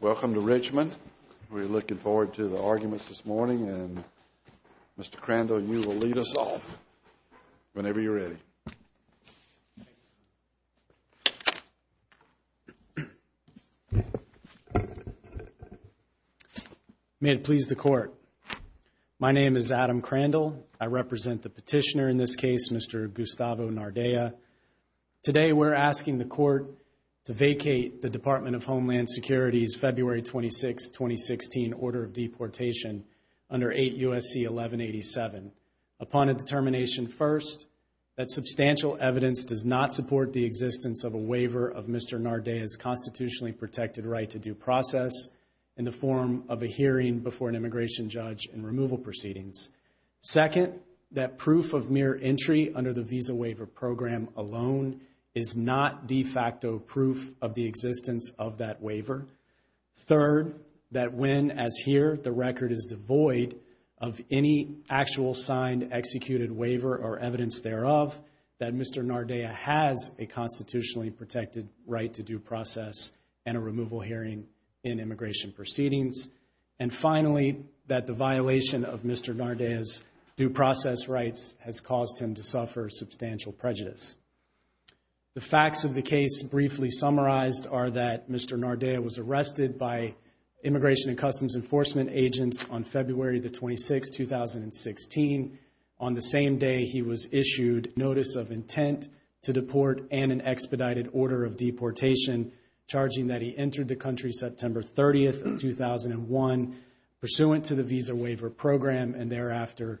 Welcome to Richmond. We're looking forward to the arguments this morning and Mr. Crandall, you will lead us off whenever you're ready. May it please the court. My name is Adam Crandall. I represent the petitioner in this case, Mr. Gustavo Nardea. Today we're asking the court to vacate the Department of Homeland Security's February 26, 2016, order of deportation under 8 U.S.C. 1187 upon a determination, first, that substantial evidence does not support the existence of a waiver of Mr. Nardea's constitutionally protected right to due process in the form of a hearing before an immigration judge and removal proceedings. Second, that proof of mere entry under the visa waiver program alone is not de facto proof of the existence of that waiver. Third, that when, as here, the record is devoid of any actual signed executed waiver or evidence thereof, that Mr. Nardea has a constitutionally protected right to due process and a removal hearing in immigration proceedings. And finally, that the violation of Mr. Nardea's due process rights has caused him to suffer substantial prejudice. The facts of the case briefly summarized are that Mr. Nardea was arrested by Immigration and Customs Enforcement agents on February 26, 2016. On the same day, he was issued notice of intent to deport and an expedited order of deportation charging that he entered the country September 30, 2001 pursuant to the visa waiver program and thereafter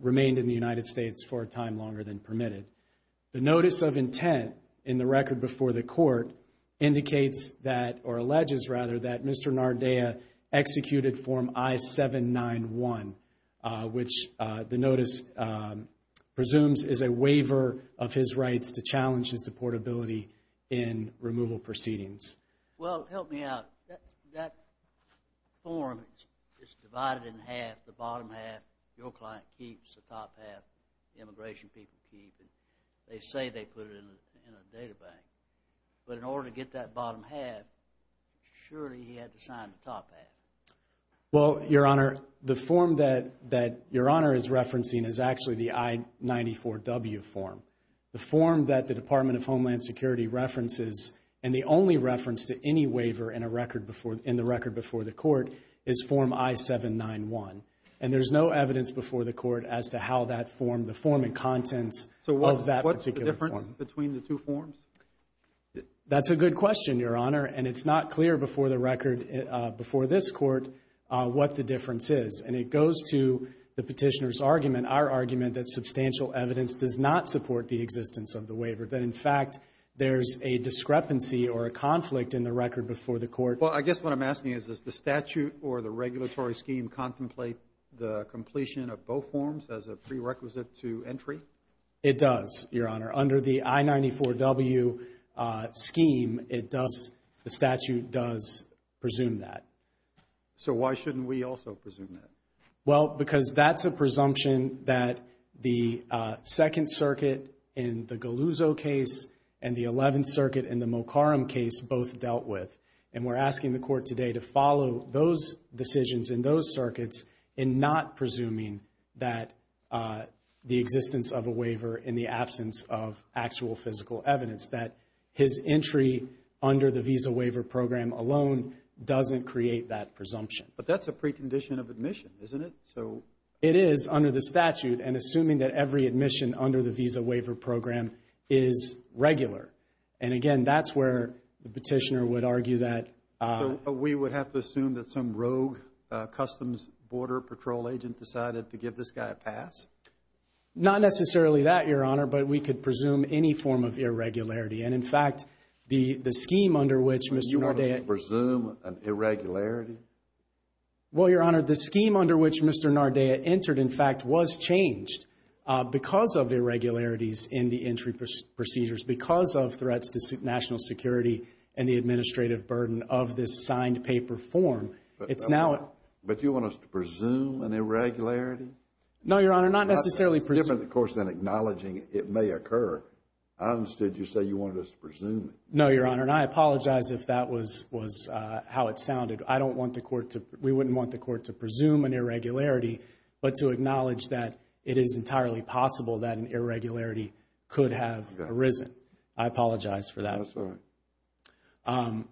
remained in the United States. The notice of intent in the record before the court indicates that, or alleges rather, that Mr. Nardea executed form I-791, which the notice presumes is a waiver of his rights to challenge his deportability in removal proceedings. Well, help me out. That form is divided in half. The bottom half, your client keeps, the top half, the immigration people keep. They say they put it in a data bank. But in order to get that bottom half, surely he had to sign the top half. Well, your Honor, the form that your Honor is referencing is actually the I-94W form. The form that the Department of Homeland Security references, and the only reference to any waiver in the record before the court, is form I-791. And there's no evidence before the court as to how that form, the form and contents of that particular form. So what's the difference between the two forms? That's a good question, your Honor. And it's not clear before the record, before this court, what the difference is. And it goes to the petitioner's argument, our argument, that substantial evidence does not support the existence of the waiver. That, in fact, there's a discrepancy or a conflict in the record before the court. Well, I guess what I'm asking is, does the statute or the regulatory scheme contemplate the completion of both forms as a prerequisite to entry? It does, your Honor. Under the I-94W scheme, it does, the statute does presume that. So why shouldn't we also presume that? Well, because that's a presumption that the Second Circuit in the Galuzzo case and the Eleventh Circuit in the Mocarum case both dealt with. And we're asking the court today to follow those decisions in those circuits in not presuming that the existence of a waiver in the absence of actual physical evidence, that his entry under the Visa Waiver Program alone doesn't create that presumption. But that's a precondition of admission, isn't it? So it is under the statute and assuming that every admission under the Visa Waiver Program is regular. And, again, that's where the petitioner would argue that. We would have to assume that some rogue Customs Border Patrol agent decided to give this guy a pass? Not necessarily that, your Honor, but we could presume any form of irregularity. And, in fact, the scheme under which Mr. Nordea. You want us to presume an irregularity? Well, your Honor, the scheme under which Mr. Nordea entered, in fact, was changed because of irregularities in the entry procedures, because of threats to national security and the administrative burden of this signed paper form. But you want us to presume an irregularity? No, your Honor, not necessarily presume. It's different, of course, than acknowledging it may occur. I understood you say you wanted us to presume it. No, your Honor, and I apologize if that was how it sounded. We wouldn't want the court to presume an irregularity, but to acknowledge that it is entirely possible that an irregularity could have arisen. I apologize for that. That's all right.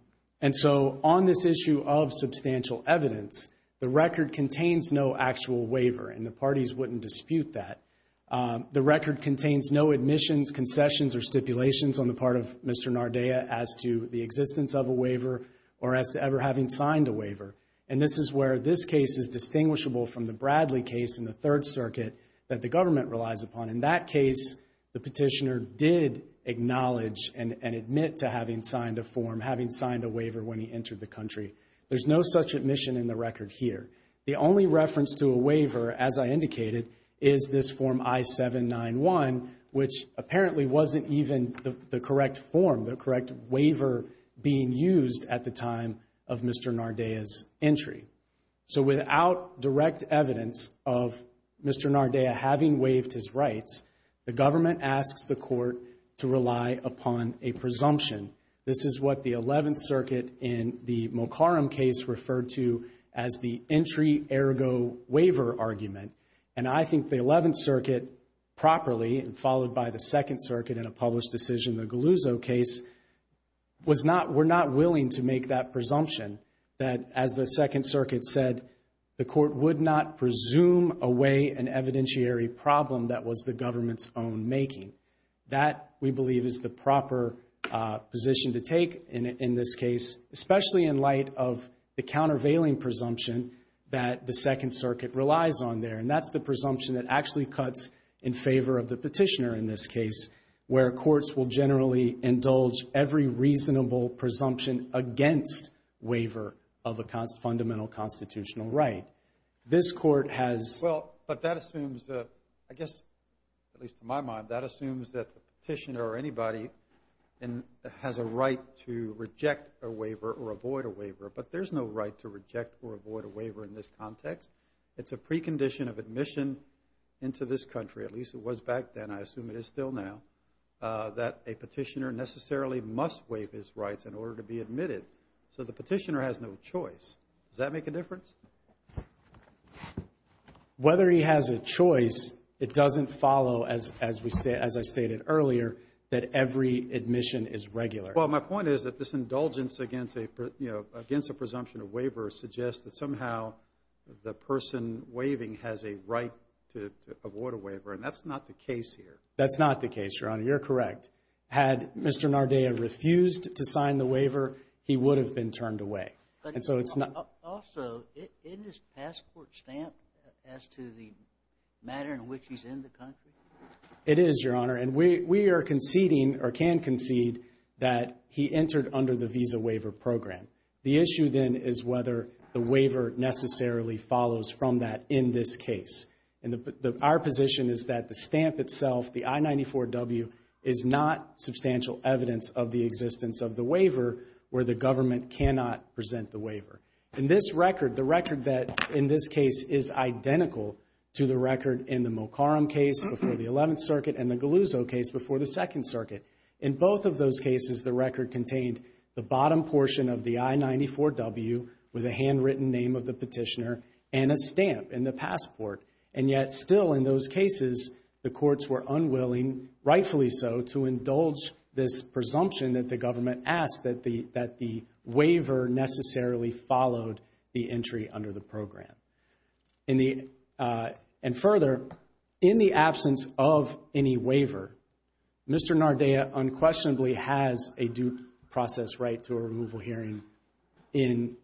And so on this issue of substantial evidence, the record contains no actual waiver, and the parties wouldn't dispute that. The record contains no admissions, concessions, or stipulations on the part of Mr. Nordea as to the existence of a waiver or as to ever having signed a waiver. And this is where this case is distinguishable from the Bradley case in the Third Circuit that the government relies upon. In that case, the petitioner did acknowledge and admit to having signed a form, having signed a waiver when he entered the country. There's no such admission in the record here. The only reference to a waiver, as I indicated, is this form I-791, which apparently wasn't even the correct form, the correct waiver being used at the time of Mr. Nordea's entry. So without direct evidence of Mr. Nordea having waived his rights, the government asks the court to rely upon a presumption. This is what the Eleventh Circuit in the Mulcarham case referred to as the entry ergo waiver argument. And I think the Eleventh Circuit properly, followed by the Second Circuit in a published decision in the Galuzzo case, were not willing to make that presumption that, as the Second Circuit said, the court would not presume away an evidentiary problem that was the government's own making. That, we believe, is the proper position to take in this case, especially in light of the countervailing presumption that the Second Circuit relies on there. And that's the presumption that actually cuts in favor of the petitioner in this case, where courts will generally indulge every reasonable presumption against waiver of a fundamental constitutional right. This court has – Well, but that assumes, I guess, at least in my mind, that assumes that the petitioner or anybody has a right to reject a waiver or avoid a waiver. But there's no right to reject or avoid a waiver in this context. It's a precondition of admission into this country, at least it was back then, I assume it is still now, that a petitioner necessarily must waive his rights in order to be admitted. So the petitioner has no choice. Does that make a difference? Whether he has a choice, it doesn't follow, as I stated earlier, that every admission is regular. Well, my point is that this indulgence against a presumption of waiver suggests that somehow the person waiving has a right to avoid a waiver, and that's not the case here. That's not the case, Your Honor. You're correct. Had Mr. Nardella refused to sign the waiver, he would have been turned away. And so it's not – Also, isn't this passport stamp as to the manner in which he's in the country? It is, Your Honor. And we are conceding or can concede that he entered under the Visa Waiver Program. The issue, then, is whether the waiver necessarily follows from that in this case. And our position is that the stamp itself, the I-94W, is not substantial evidence of the existence of the waiver where the government cannot present the waiver. And this record, the record that in this case is identical to the record in the Mulcarim case before the Eleventh Circuit and the Galuzzo case before the Second Circuit, in both of those cases, the record contained the bottom portion of the I-94W with a handwritten name of the petitioner and a stamp in the passport. And yet still in those cases, the courts were unwilling, rightfully so, to indulge this presumption that the government asked that the waiver necessarily followed the entry under the program. And further, in the absence of any waiver, Mr. Nardea unquestionably has a due process right to a removal hearing in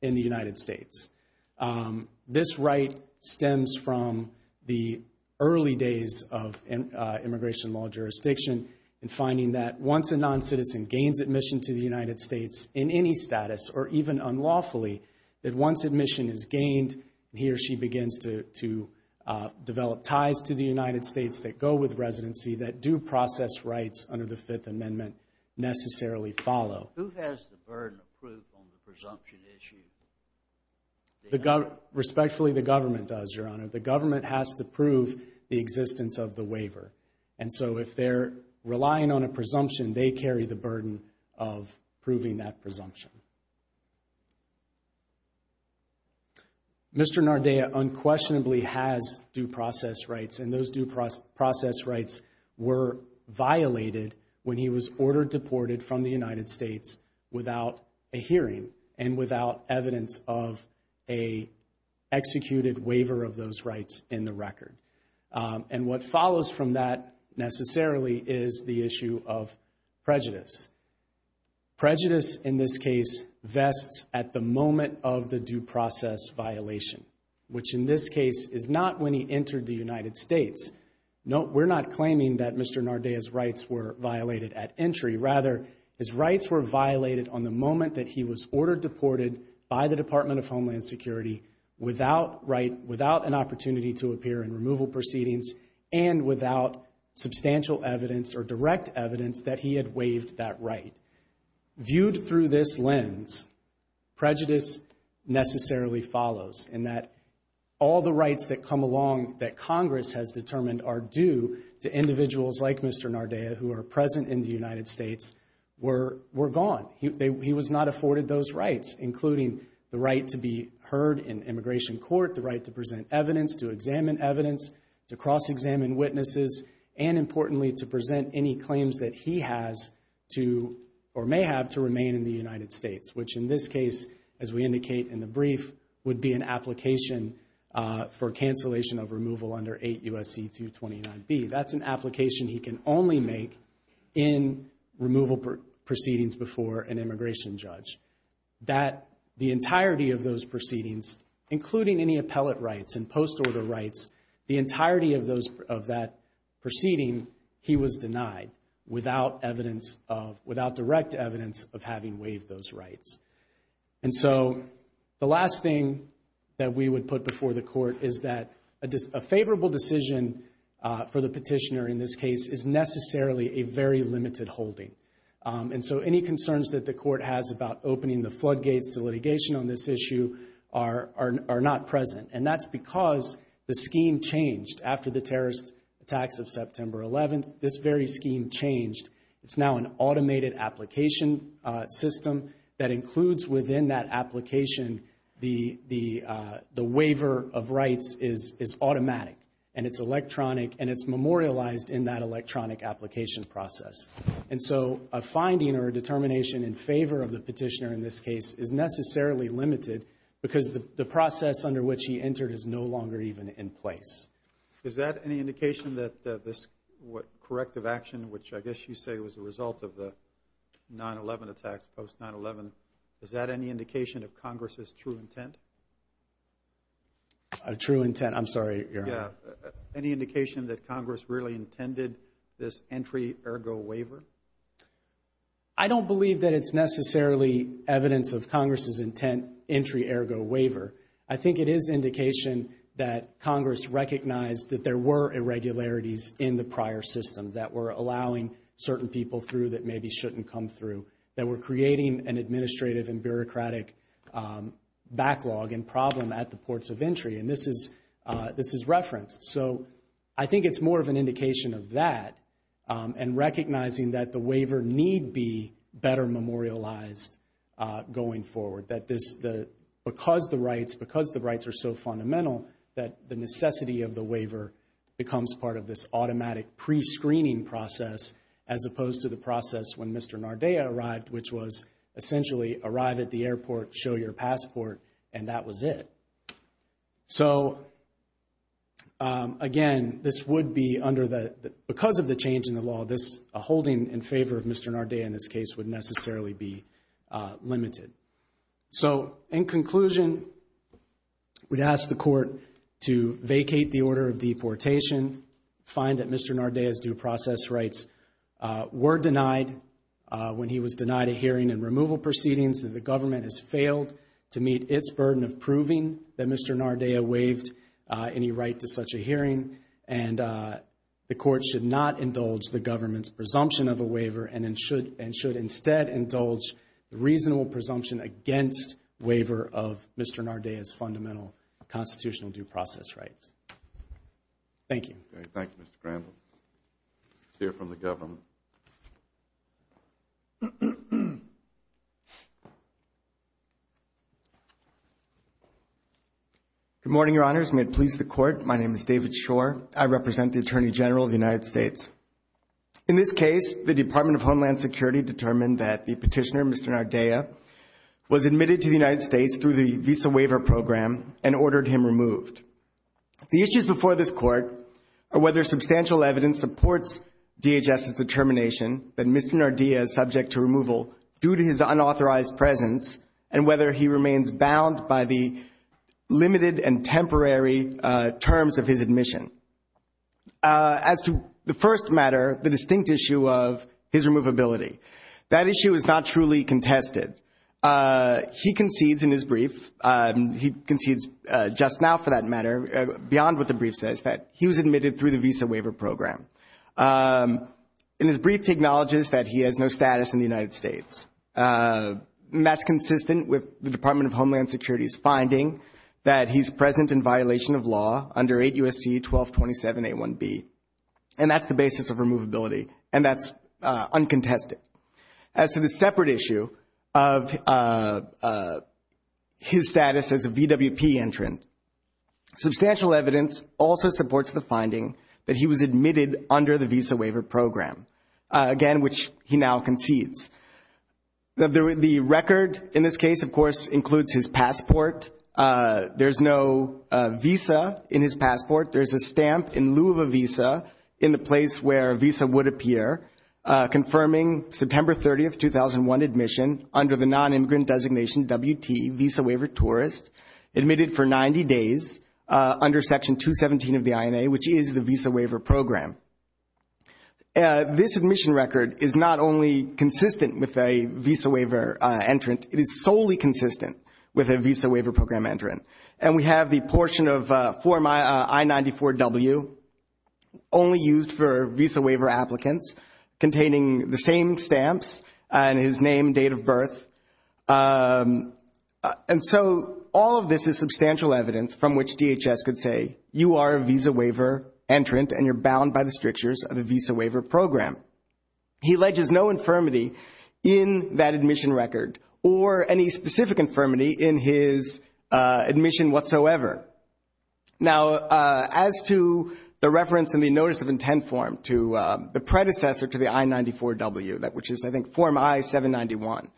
the United States. This right stems from the early days of immigration law jurisdiction in finding that once a noncitizen gains admission to the United States in any status or even unlawfully, that once admission is gained, he or she begins to develop ties to the United States that go with residency that due process rights under the Fifth Amendment necessarily follow. Who has the burden of proof on the presumption issue? Respectfully, the government does, Your Honor. The government has to prove the existence of the waiver. And so if they're relying on a presumption, they carry the burden of proving that presumption. Mr. Nardea unquestionably has due process rights, and those due process rights were violated when he was ordered deported from the United States without a hearing and without evidence of an executed waiver of those rights in the record. And what follows from that necessarily is the issue of prejudice. Prejudice in this case vests at the moment of the due process violation, which in this case is not when he entered the United States. No, we're not claiming that Mr. Nardea's rights were violated at entry. Rather, his rights were violated on the moment that he was ordered deported by the Department of Homeland Security without an opportunity to appear in removal proceedings and without substantial evidence or direct evidence that he had waived that right. Viewed through this lens, prejudice necessarily follows in that all the rights that come along that Congress has determined are due to individuals like Mr. Nardea who are present in the United States were gone. He was not afforded those rights, including the right to be heard in immigration court, the right to present evidence, to examine evidence, to cross-examine witnesses, and importantly, to present any claims that he has to or may have to remain in the United States, which in this case, as we indicate in the brief, would be an application for cancellation of removal under 8 U.S.C. 229B. That's an application he can only make in removal proceedings before an immigration judge. That the entirety of those proceedings, including any appellate rights and post-order rights, the entirety of that proceeding, he was denied without direct evidence of having waived those rights. And so the last thing that we would put before the court is that a favorable decision for the petitioner in this case is necessarily a very limited holding. And so any concerns that the court has about opening the floodgates to litigation on this issue are not present. And that's because the scheme changed after the terrorist attacks of September 11th. This very scheme changed. It's now an automated application system that includes within that application the waiver of rights is automatic, and it's electronic, and it's memorialized in that electronic application process. And so a finding or a determination in favor of the petitioner in this case is necessarily limited because the process under which he entered is no longer even in place. Is that any indication that this corrective action, which I guess you say was a result of the 9-11 attacks, post-9-11, is that any indication of Congress's true intent? True intent? I'm sorry, Your Honor. Any indication that Congress really intended this entry-ergo waiver? I don't believe that it's necessarily evidence of Congress's intent, entry-ergo waiver. I think it is indication that Congress recognized that there were irregularities in the prior system that were allowing certain people through that maybe shouldn't come through, that were creating an administrative and bureaucratic backlog and problem at the ports of entry. And this is referenced. So I think it's more of an indication of that and recognizing that the waiver need be better memorialized going forward, that because the rights are so fundamental that the necessity of the waiver becomes part of this automatic prescreening process as opposed to the process when Mr. Nardaeya arrived, which was essentially arrive at the airport, show your passport, and that was it. So, again, because of the change in the law, a holding in favor of Mr. Nardaeya in this case would necessarily be limited. So, in conclusion, we'd ask the Court to vacate the order of deportation, find that Mr. Nardaeya's due process rights were denied when he was denied a hearing and removal proceedings, that the government has failed to meet its burden of proving that Mr. Nardaeya waived any right to such a hearing, and the Court should not indulge the government's presumption of a waiver and should instead indulge the reasonable presumption against waiver of Mr. Nardaeya's fundamental constitutional due process rights. Thank you. Thank you, Mr. Crandall. Let's hear from the government. Good morning, Your Honors. May it please the Court, my name is David Shore. I represent the Attorney General of the United States. In this case, the Department of Homeland Security determined that the petitioner, Mr. Nardaeya, was admitted to the United States through the Visa Waiver Program and ordered him removed. The issues before this Court are whether substantial evidence supports DHS's determination that Mr. Nardaeya is subject to removal due to his unauthorized presence and whether he remains bound by the limited and temporary terms of his admission. As to the first matter, the distinct issue of his removability, that issue is not truly contested. He concedes in his brief, he concedes just now for that matter, beyond what the brief says, that he was admitted through the Visa Waiver Program. In his brief, he acknowledges that he has no status in the United States, and that's consistent with the Department of Homeland Security's finding that he's present in violation of law under 8 U.S.C. 1227A1B. And that's the basis of removability, and that's uncontested. As to the separate issue of his status as a VWP entrant, substantial evidence also supports the finding that he was admitted under the Visa Waiver Program, again, which he now concedes. The record in this case, of course, includes his passport. There's no visa in his passport. There's a stamp in lieu of a visa in the place where a visa would appear, confirming September 30, 2001 admission under the non-immigrant designation WT, Visa Waiver Tourist, admitted for 90 days under Section 217 of the INA, which is the Visa Waiver Program. This admission record is not only consistent with a Visa Waiver entrant, it is solely consistent with a Visa Waiver Program entrant. And we have the portion of Form I-94W only used for Visa Waiver applicants, containing the same stamps and his name and date of birth. And so all of this is substantial evidence from which DHS could say, you are a Visa Waiver entrant and you're bound by the strictures of the Visa Waiver Program. He alleges no infirmity in that admission record or any specific infirmity in his admission whatsoever. Now, as to the reference in the Notice of Intent form to the predecessor to the I-94W, which is, I think, Form I-791.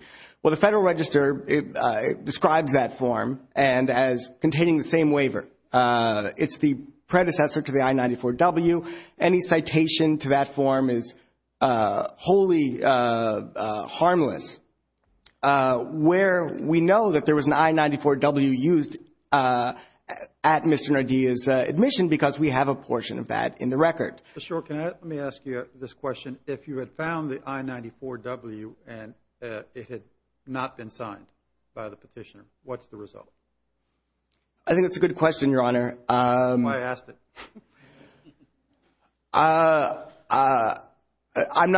Well, the Federal Register describes that form as containing the same waiver. It's the predecessor to the I-94W. Any citation to that form is wholly harmless. Where we know that there was an I-94W used at Mr. Nardia's admission because we have a portion of that in the record. Mr. O'Rourke, let me ask you this question. If you had found the I-94W and it had not been signed by the petitioner, what's the result? I think that's a good question, Your Honor. That's why I asked it. I'm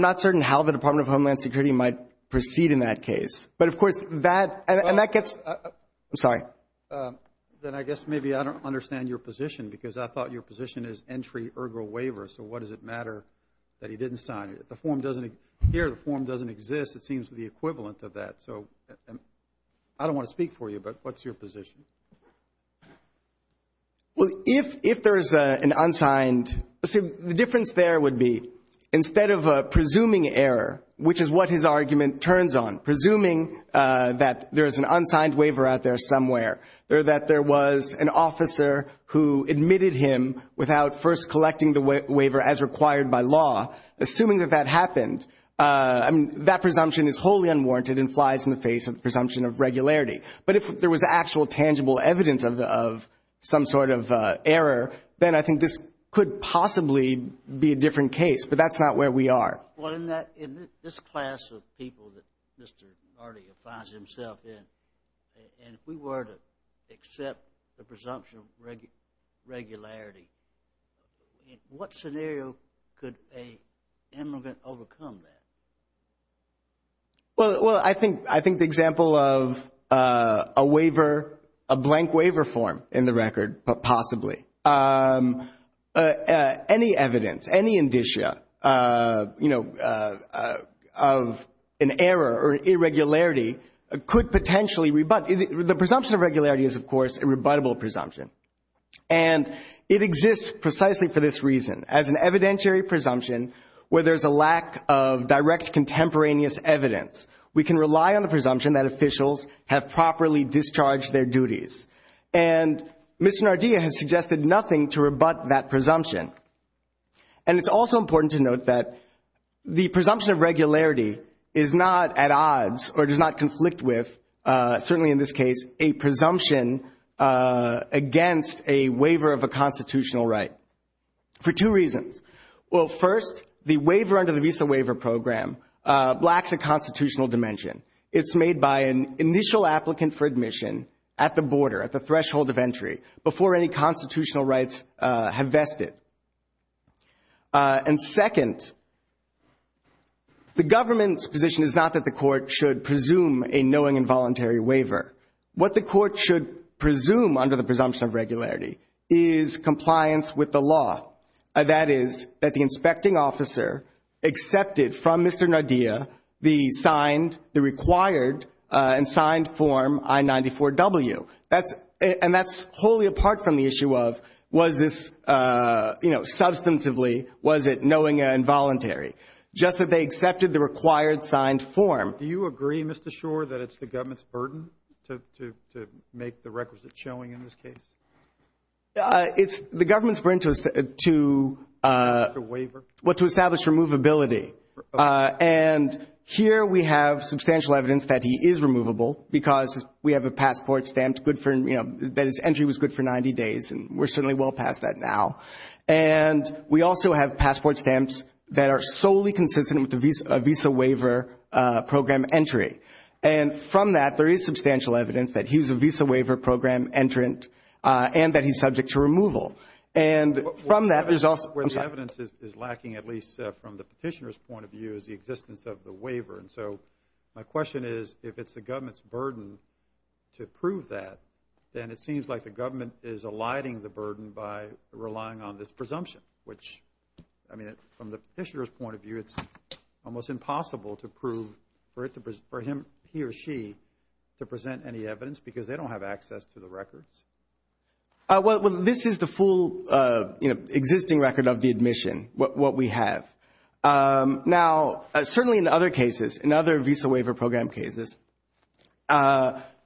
not certain how the Department of Homeland Security might proceed in that case. But, of course, that gets – I'm sorry. Then I guess maybe I don't understand your position because I thought your position is Entry Ergo Waiver. So what does it matter that he didn't sign it? If the form doesn't appear, the form doesn't exist, it seems to be equivalent to that. So I don't want to speak for you, but what's your position? Well, if there is an unsigned – the difference there would be instead of presuming error, which is what his argument turns on, presuming that there is an unsigned waiver out there somewhere, or that there was an officer who admitted him without first collecting the waiver as required by law, assuming that that happened, that presumption is wholly unwarranted and flies in the face of the presumption of regularity. But if there was actual tangible evidence of some sort of error, then I think this could possibly be a different case, but that's not where we are. Well, in this class of people that Mr. Nardi affines himself in, and if we were to accept the presumption of regularity, in what scenario could an immigrant overcome that? Well, I think the example of a waiver, a blank waiver form in the record, but possibly. Any evidence, any indicia, you know, of an error or an irregularity could potentially rebut. The presumption of regularity is, of course, a rebuttable presumption, and it exists precisely for this reason. As an evidentiary presumption where there is a lack of direct contemporaneous evidence, we can rely on the presumption that officials have properly discharged their duties. And Mr. Nardi has suggested nothing to rebut that presumption. And it's also important to note that the presumption of regularity is not at odds or does not conflict with, certainly in this case, a presumption against a waiver of a constitutional right for two reasons. Well, first, the waiver under the Visa Waiver Program lacks a constitutional dimension. It's made by an initial applicant for admission at the border, at the threshold of entry, before any constitutional rights have vested. And second, the government's position is not that the court should presume a knowing involuntary waiver. What the court should presume under the presumption of regularity is compliance with the law. That is, that the inspecting officer accepted from Mr. Nardia the signed, the required and signed form I-94W. And that's wholly apart from the issue of was this, you know, substantively, was it knowing involuntary? Just that they accepted the required signed form. Do you agree, Mr. Schor, that it's the government's burden to make the requisite showing in this case? It's the government's burden to establish removability. And here we have substantial evidence that he is removable because we have a passport stamped good for, you know, that his entry was good for 90 days, and we're certainly well past that now. And we also have passport stamps that are solely consistent with a Visa Waiver Program entry. And from that, there is substantial evidence that he was a Visa Waiver Program entrant and that he's subject to removal. And from that, there's also – Where the evidence is lacking, at least from the petitioner's point of view, is the existence of the waiver. And so my question is, if it's the government's burden to prove that, then it seems like the government is alighting the burden by relying on this presumption, which, I mean, from the petitioner's point of view, it's almost impossible to prove for him, he, or she to present any evidence because they don't have access to the records. Well, this is the full, you know, existing record of the admission, what we have. Now, certainly in other cases, in other Visa Waiver Program cases,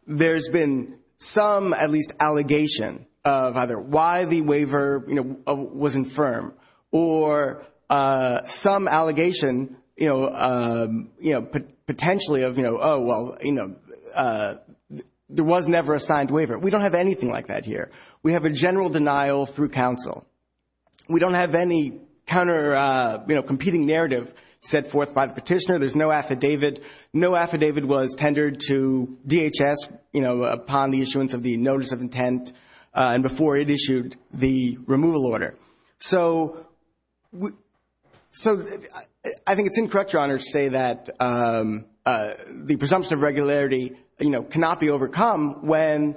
there's been some, at least, allegation of either why the waiver, you know, was infirm or some allegation, you know, potentially of, you know, oh, well, you know, there was never a signed waiver. We don't have anything like that here. We have a general denial through counsel. We don't have any counter, you know, competing narrative set forth by the petitioner. So there's no affidavit. No affidavit was tendered to DHS, you know, upon the issuance of the notice of intent and before it issued the removal order. So I think it's incorrect, Your Honor, to say that the presumption of regularity, you know, cannot be overcome when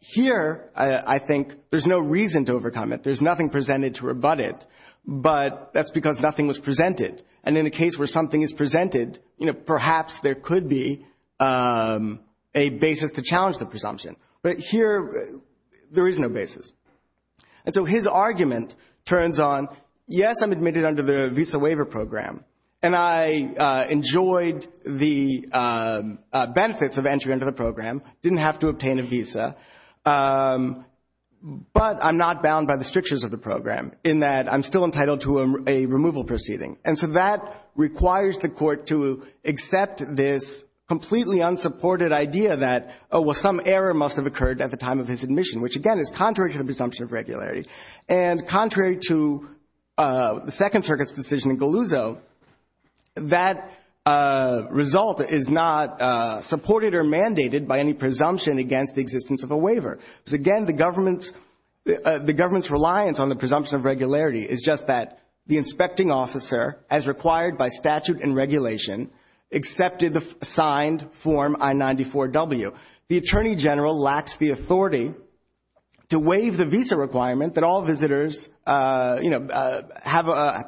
here, I think, there's no reason to overcome it. There's nothing presented to rebut it. But that's because nothing was presented. And in a case where something is presented, you know, perhaps there could be a basis to challenge the presumption. But here, there is no basis. And so his argument turns on, yes, I'm admitted under the Visa Waiver Program, and I enjoyed the benefits of entry under the program, didn't have to obtain a visa, but I'm not bound by the strictures of the program in that I'm still entitled to a removal proceeding. And so that requires the court to accept this completely unsupported idea that, oh, well, some error must have occurred at the time of his admission, which, again, is contrary to the presumption of regularity. And contrary to the Second Circuit's decision in Galuzzo, that result is not supported or mandated by any presumption against the existence of a waiver. Because, again, the government's reliance on the presumption of regularity is just that the inspecting officer, as required by statute and regulation, accepted the signed Form I-94-W. The Attorney General lacks the authority to waive the visa requirement that all visitors, you know,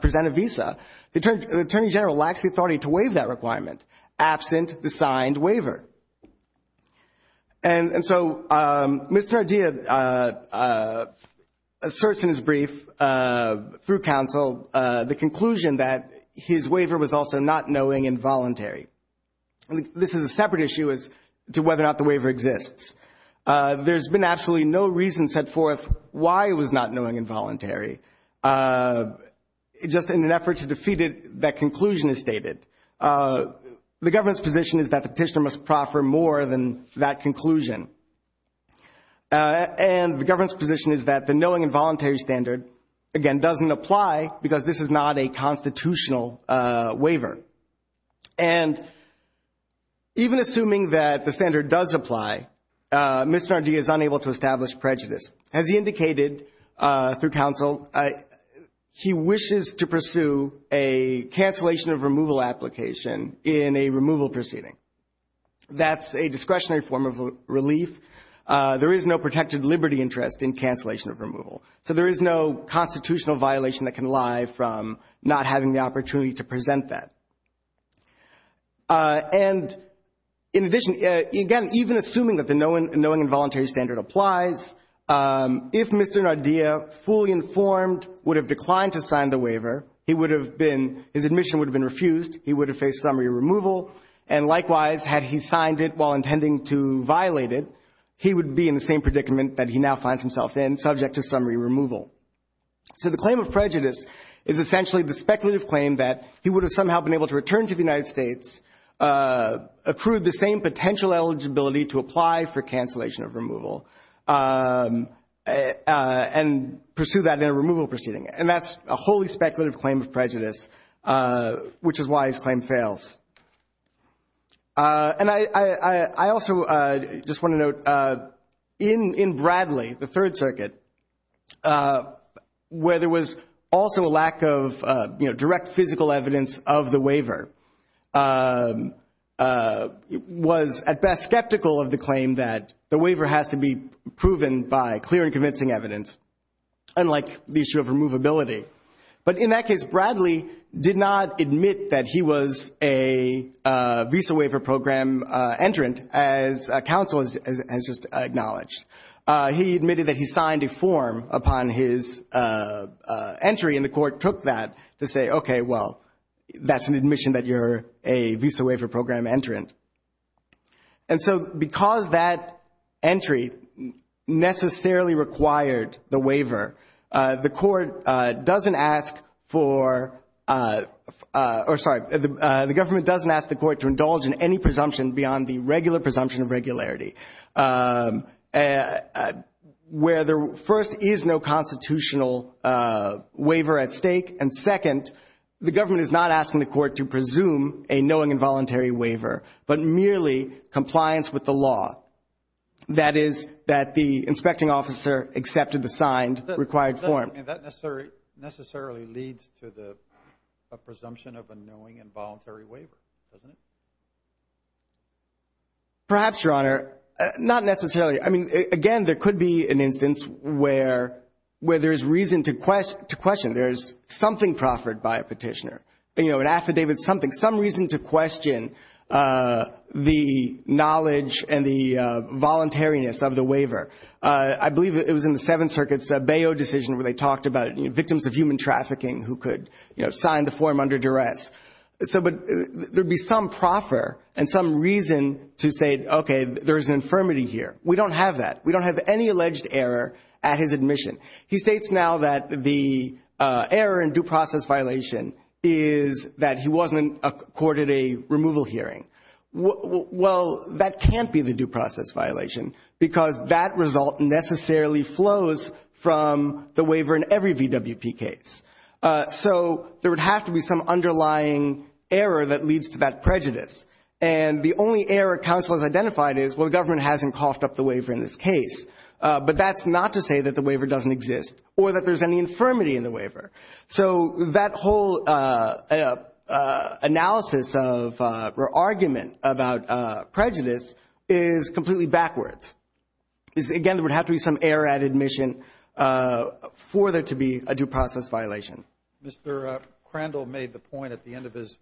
present a visa. The Attorney General lacks the authority to waive that requirement absent the signed waiver. And so Mr. Ardea asserts in his brief through counsel the conclusion that his waiver was also not knowing and voluntary. This is a separate issue as to whether or not the waiver exists. There's been absolutely no reason set forth why it was not knowing and voluntary, just in an effort to defeat it, that conclusion is stated. The government's position is that the petitioner must proffer more than that conclusion. And the government's position is that the knowing and voluntary standard, again, doesn't apply because this is not a constitutional waiver. And even assuming that the standard does apply, Mr. Ardea is unable to establish prejudice. As he indicated through counsel, he wishes to pursue a cancellation of removal application in a removal proceeding. That's a discretionary form of relief. There is no protected liberty interest in cancellation of removal. So there is no constitutional violation that can lie from not having the opportunity to present that. And in addition, again, even assuming that the knowing and voluntary standard applies, if Mr. Ardea fully informed would have declined to sign the waiver, he would have been, his admission would have been refused, he would have faced summary removal. And likewise, had he signed it while intending to violate it, he would be in the same predicament that he now finds himself in, subject to summary removal. So the claim of prejudice is essentially the speculative claim that he would have somehow been able to return to the United States, approve the same potential eligibility to apply for cancellation of removal, and pursue that in a removal proceeding. And that's a wholly speculative claim of prejudice, which is why his claim fails. And I also just want to note, in Bradley, the Third Circuit, where there was also a lack of direct physical evidence of the waiver, was at best skeptical of the claim that the waiver has to be proven by clear and convincing evidence, unlike the issue of removability. But in that case, Bradley did not admit that he was a visa waiver program entrant, as counsel has just acknowledged. He admitted that he signed a form upon his entry, and the court took that to say, okay, well, that's an admission that you're a visa waiver program entrant. And so because that entry necessarily required the waiver, the court doesn't ask for or, sorry, the government doesn't ask the court to indulge in any presumption beyond the regular presumption of regularity, where first, there is no constitutional waiver at stake, and second, the government is not asking the court to presume a knowing and voluntary waiver, but merely compliance with the law. That is, that the inspecting officer accepted the signed required form. And that necessarily leads to a presumption of a knowing and voluntary waiver, doesn't it? Perhaps, Your Honor. Not necessarily. I mean, again, there could be an instance where there is reason to question. There is something proffered by a petitioner, an affidavit, something, but there is some reason to question the knowledge and the voluntariness of the waiver. I believe it was in the Seventh Circuit's Bayeux decision where they talked about victims of human trafficking who could sign the form under duress. But there would be some proffer and some reason to say, okay, there is an infirmity here. We don't have that. We don't have any alleged error at his admission. He states now that the error in due process violation is that he wasn't accorded a removal hearing. Well, that can't be the due process violation because that result necessarily flows from the waiver in every VWP case. So there would have to be some underlying error that leads to that prejudice. And the only error counsel has identified is, well, the government hasn't coughed up the waiver in this case. But that's not to say that the waiver doesn't exist or that there's any infirmity in the waiver. So that whole analysis or argument about prejudice is completely backwards. Again, there would have to be some error at admission for there to be a due process violation. Mr. Crandall made the point at the end of his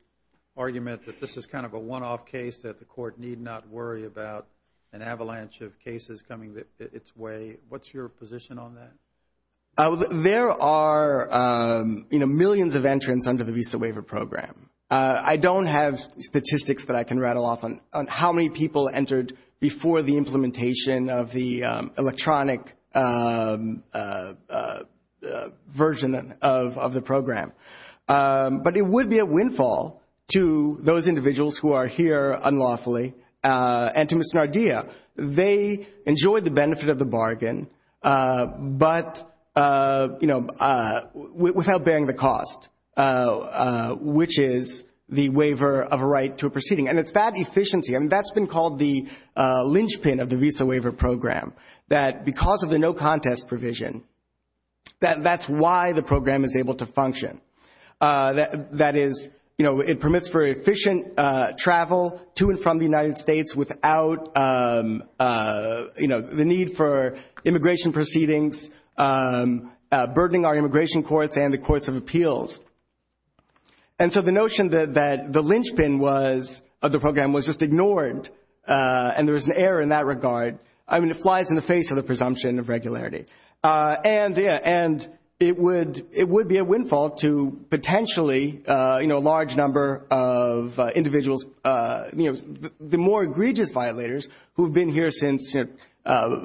argument that this is kind of a one-off case, that the court need not worry about an avalanche of cases coming its way. What's your position on that? There are millions of entrants under the Visa Waiver Program. I don't have statistics that I can rattle off on how many people entered before the implementation of the electronic version of the program. But it would be a windfall to those individuals who are here unlawfully and to Mr. Nardia. They enjoyed the benefit of the bargain, but without bearing the cost, which is the waiver of a right to a proceeding. And it's that efficiency. I mean, that's been called the linchpin of the Visa Waiver Program, that because of the no-contest provision, that's why the program is able to function. That is, it permits for efficient travel to and from the United States without the need for immigration proceedings, burdening our immigration courts and the courts of appeals. And so the notion that the linchpin of the program was just ignored and there was an error in that regard, I mean, it flies in the face of the presumption of regularity. And it would be a windfall to potentially a large number of individuals, the more egregious violators who have been here since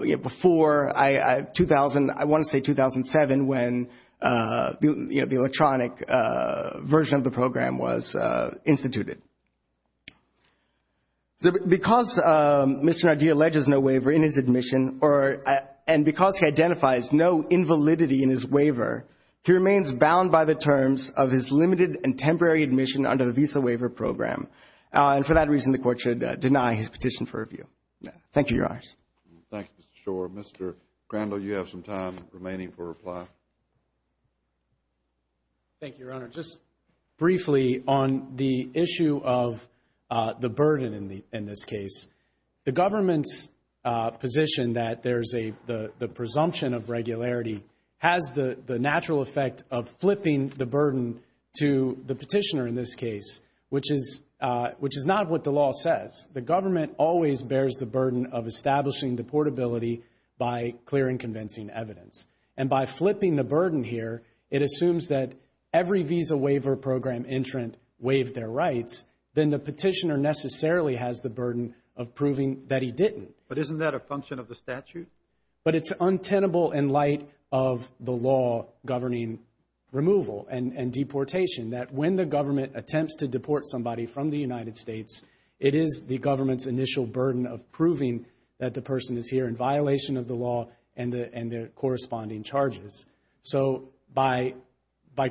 before 2000, I want to say 2007, when the electronic version of the program was instituted. Because Mr. Nardia alleges no waiver in his admission and because he identifies no invalidity in his waiver, he remains bound by the terms of his limited and temporary admission under the Visa Waiver Program. And for that reason, the Court should deny his petition for review. Thank you, Your Honors. Thank you, Mr. Schor. Mr. Crandall, you have some time remaining for reply. Thank you, Your Honor. Just briefly on the issue of the burden in this case, the government's position that there's a presumption of regularity has the natural effect of flipping the burden to the petitioner in this case, which is not what the law says. The government always bears the burden of establishing the portability by clearing convincing evidence. And by flipping the burden here, it assumes that every Visa Waiver Program entrant waived their rights, then the petitioner necessarily has the burden of proving that he didn't. But isn't that a function of the statute? But it's untenable in light of the law governing removal and deportation, that when the government attempts to deport somebody from the United States, it is the government's initial burden of proving that the person is here in violation of the law and the corresponding charges. So by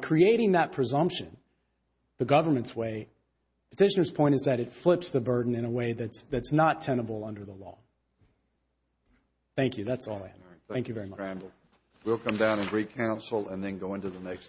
creating that presumption the government's way, the petitioner's point is that it flips the burden in a way that's not tenable under the law. Thank you. That's all I have. Thank you very much. Thank you, Mr. Crandall. We'll come down and re-counsel and then go into the next.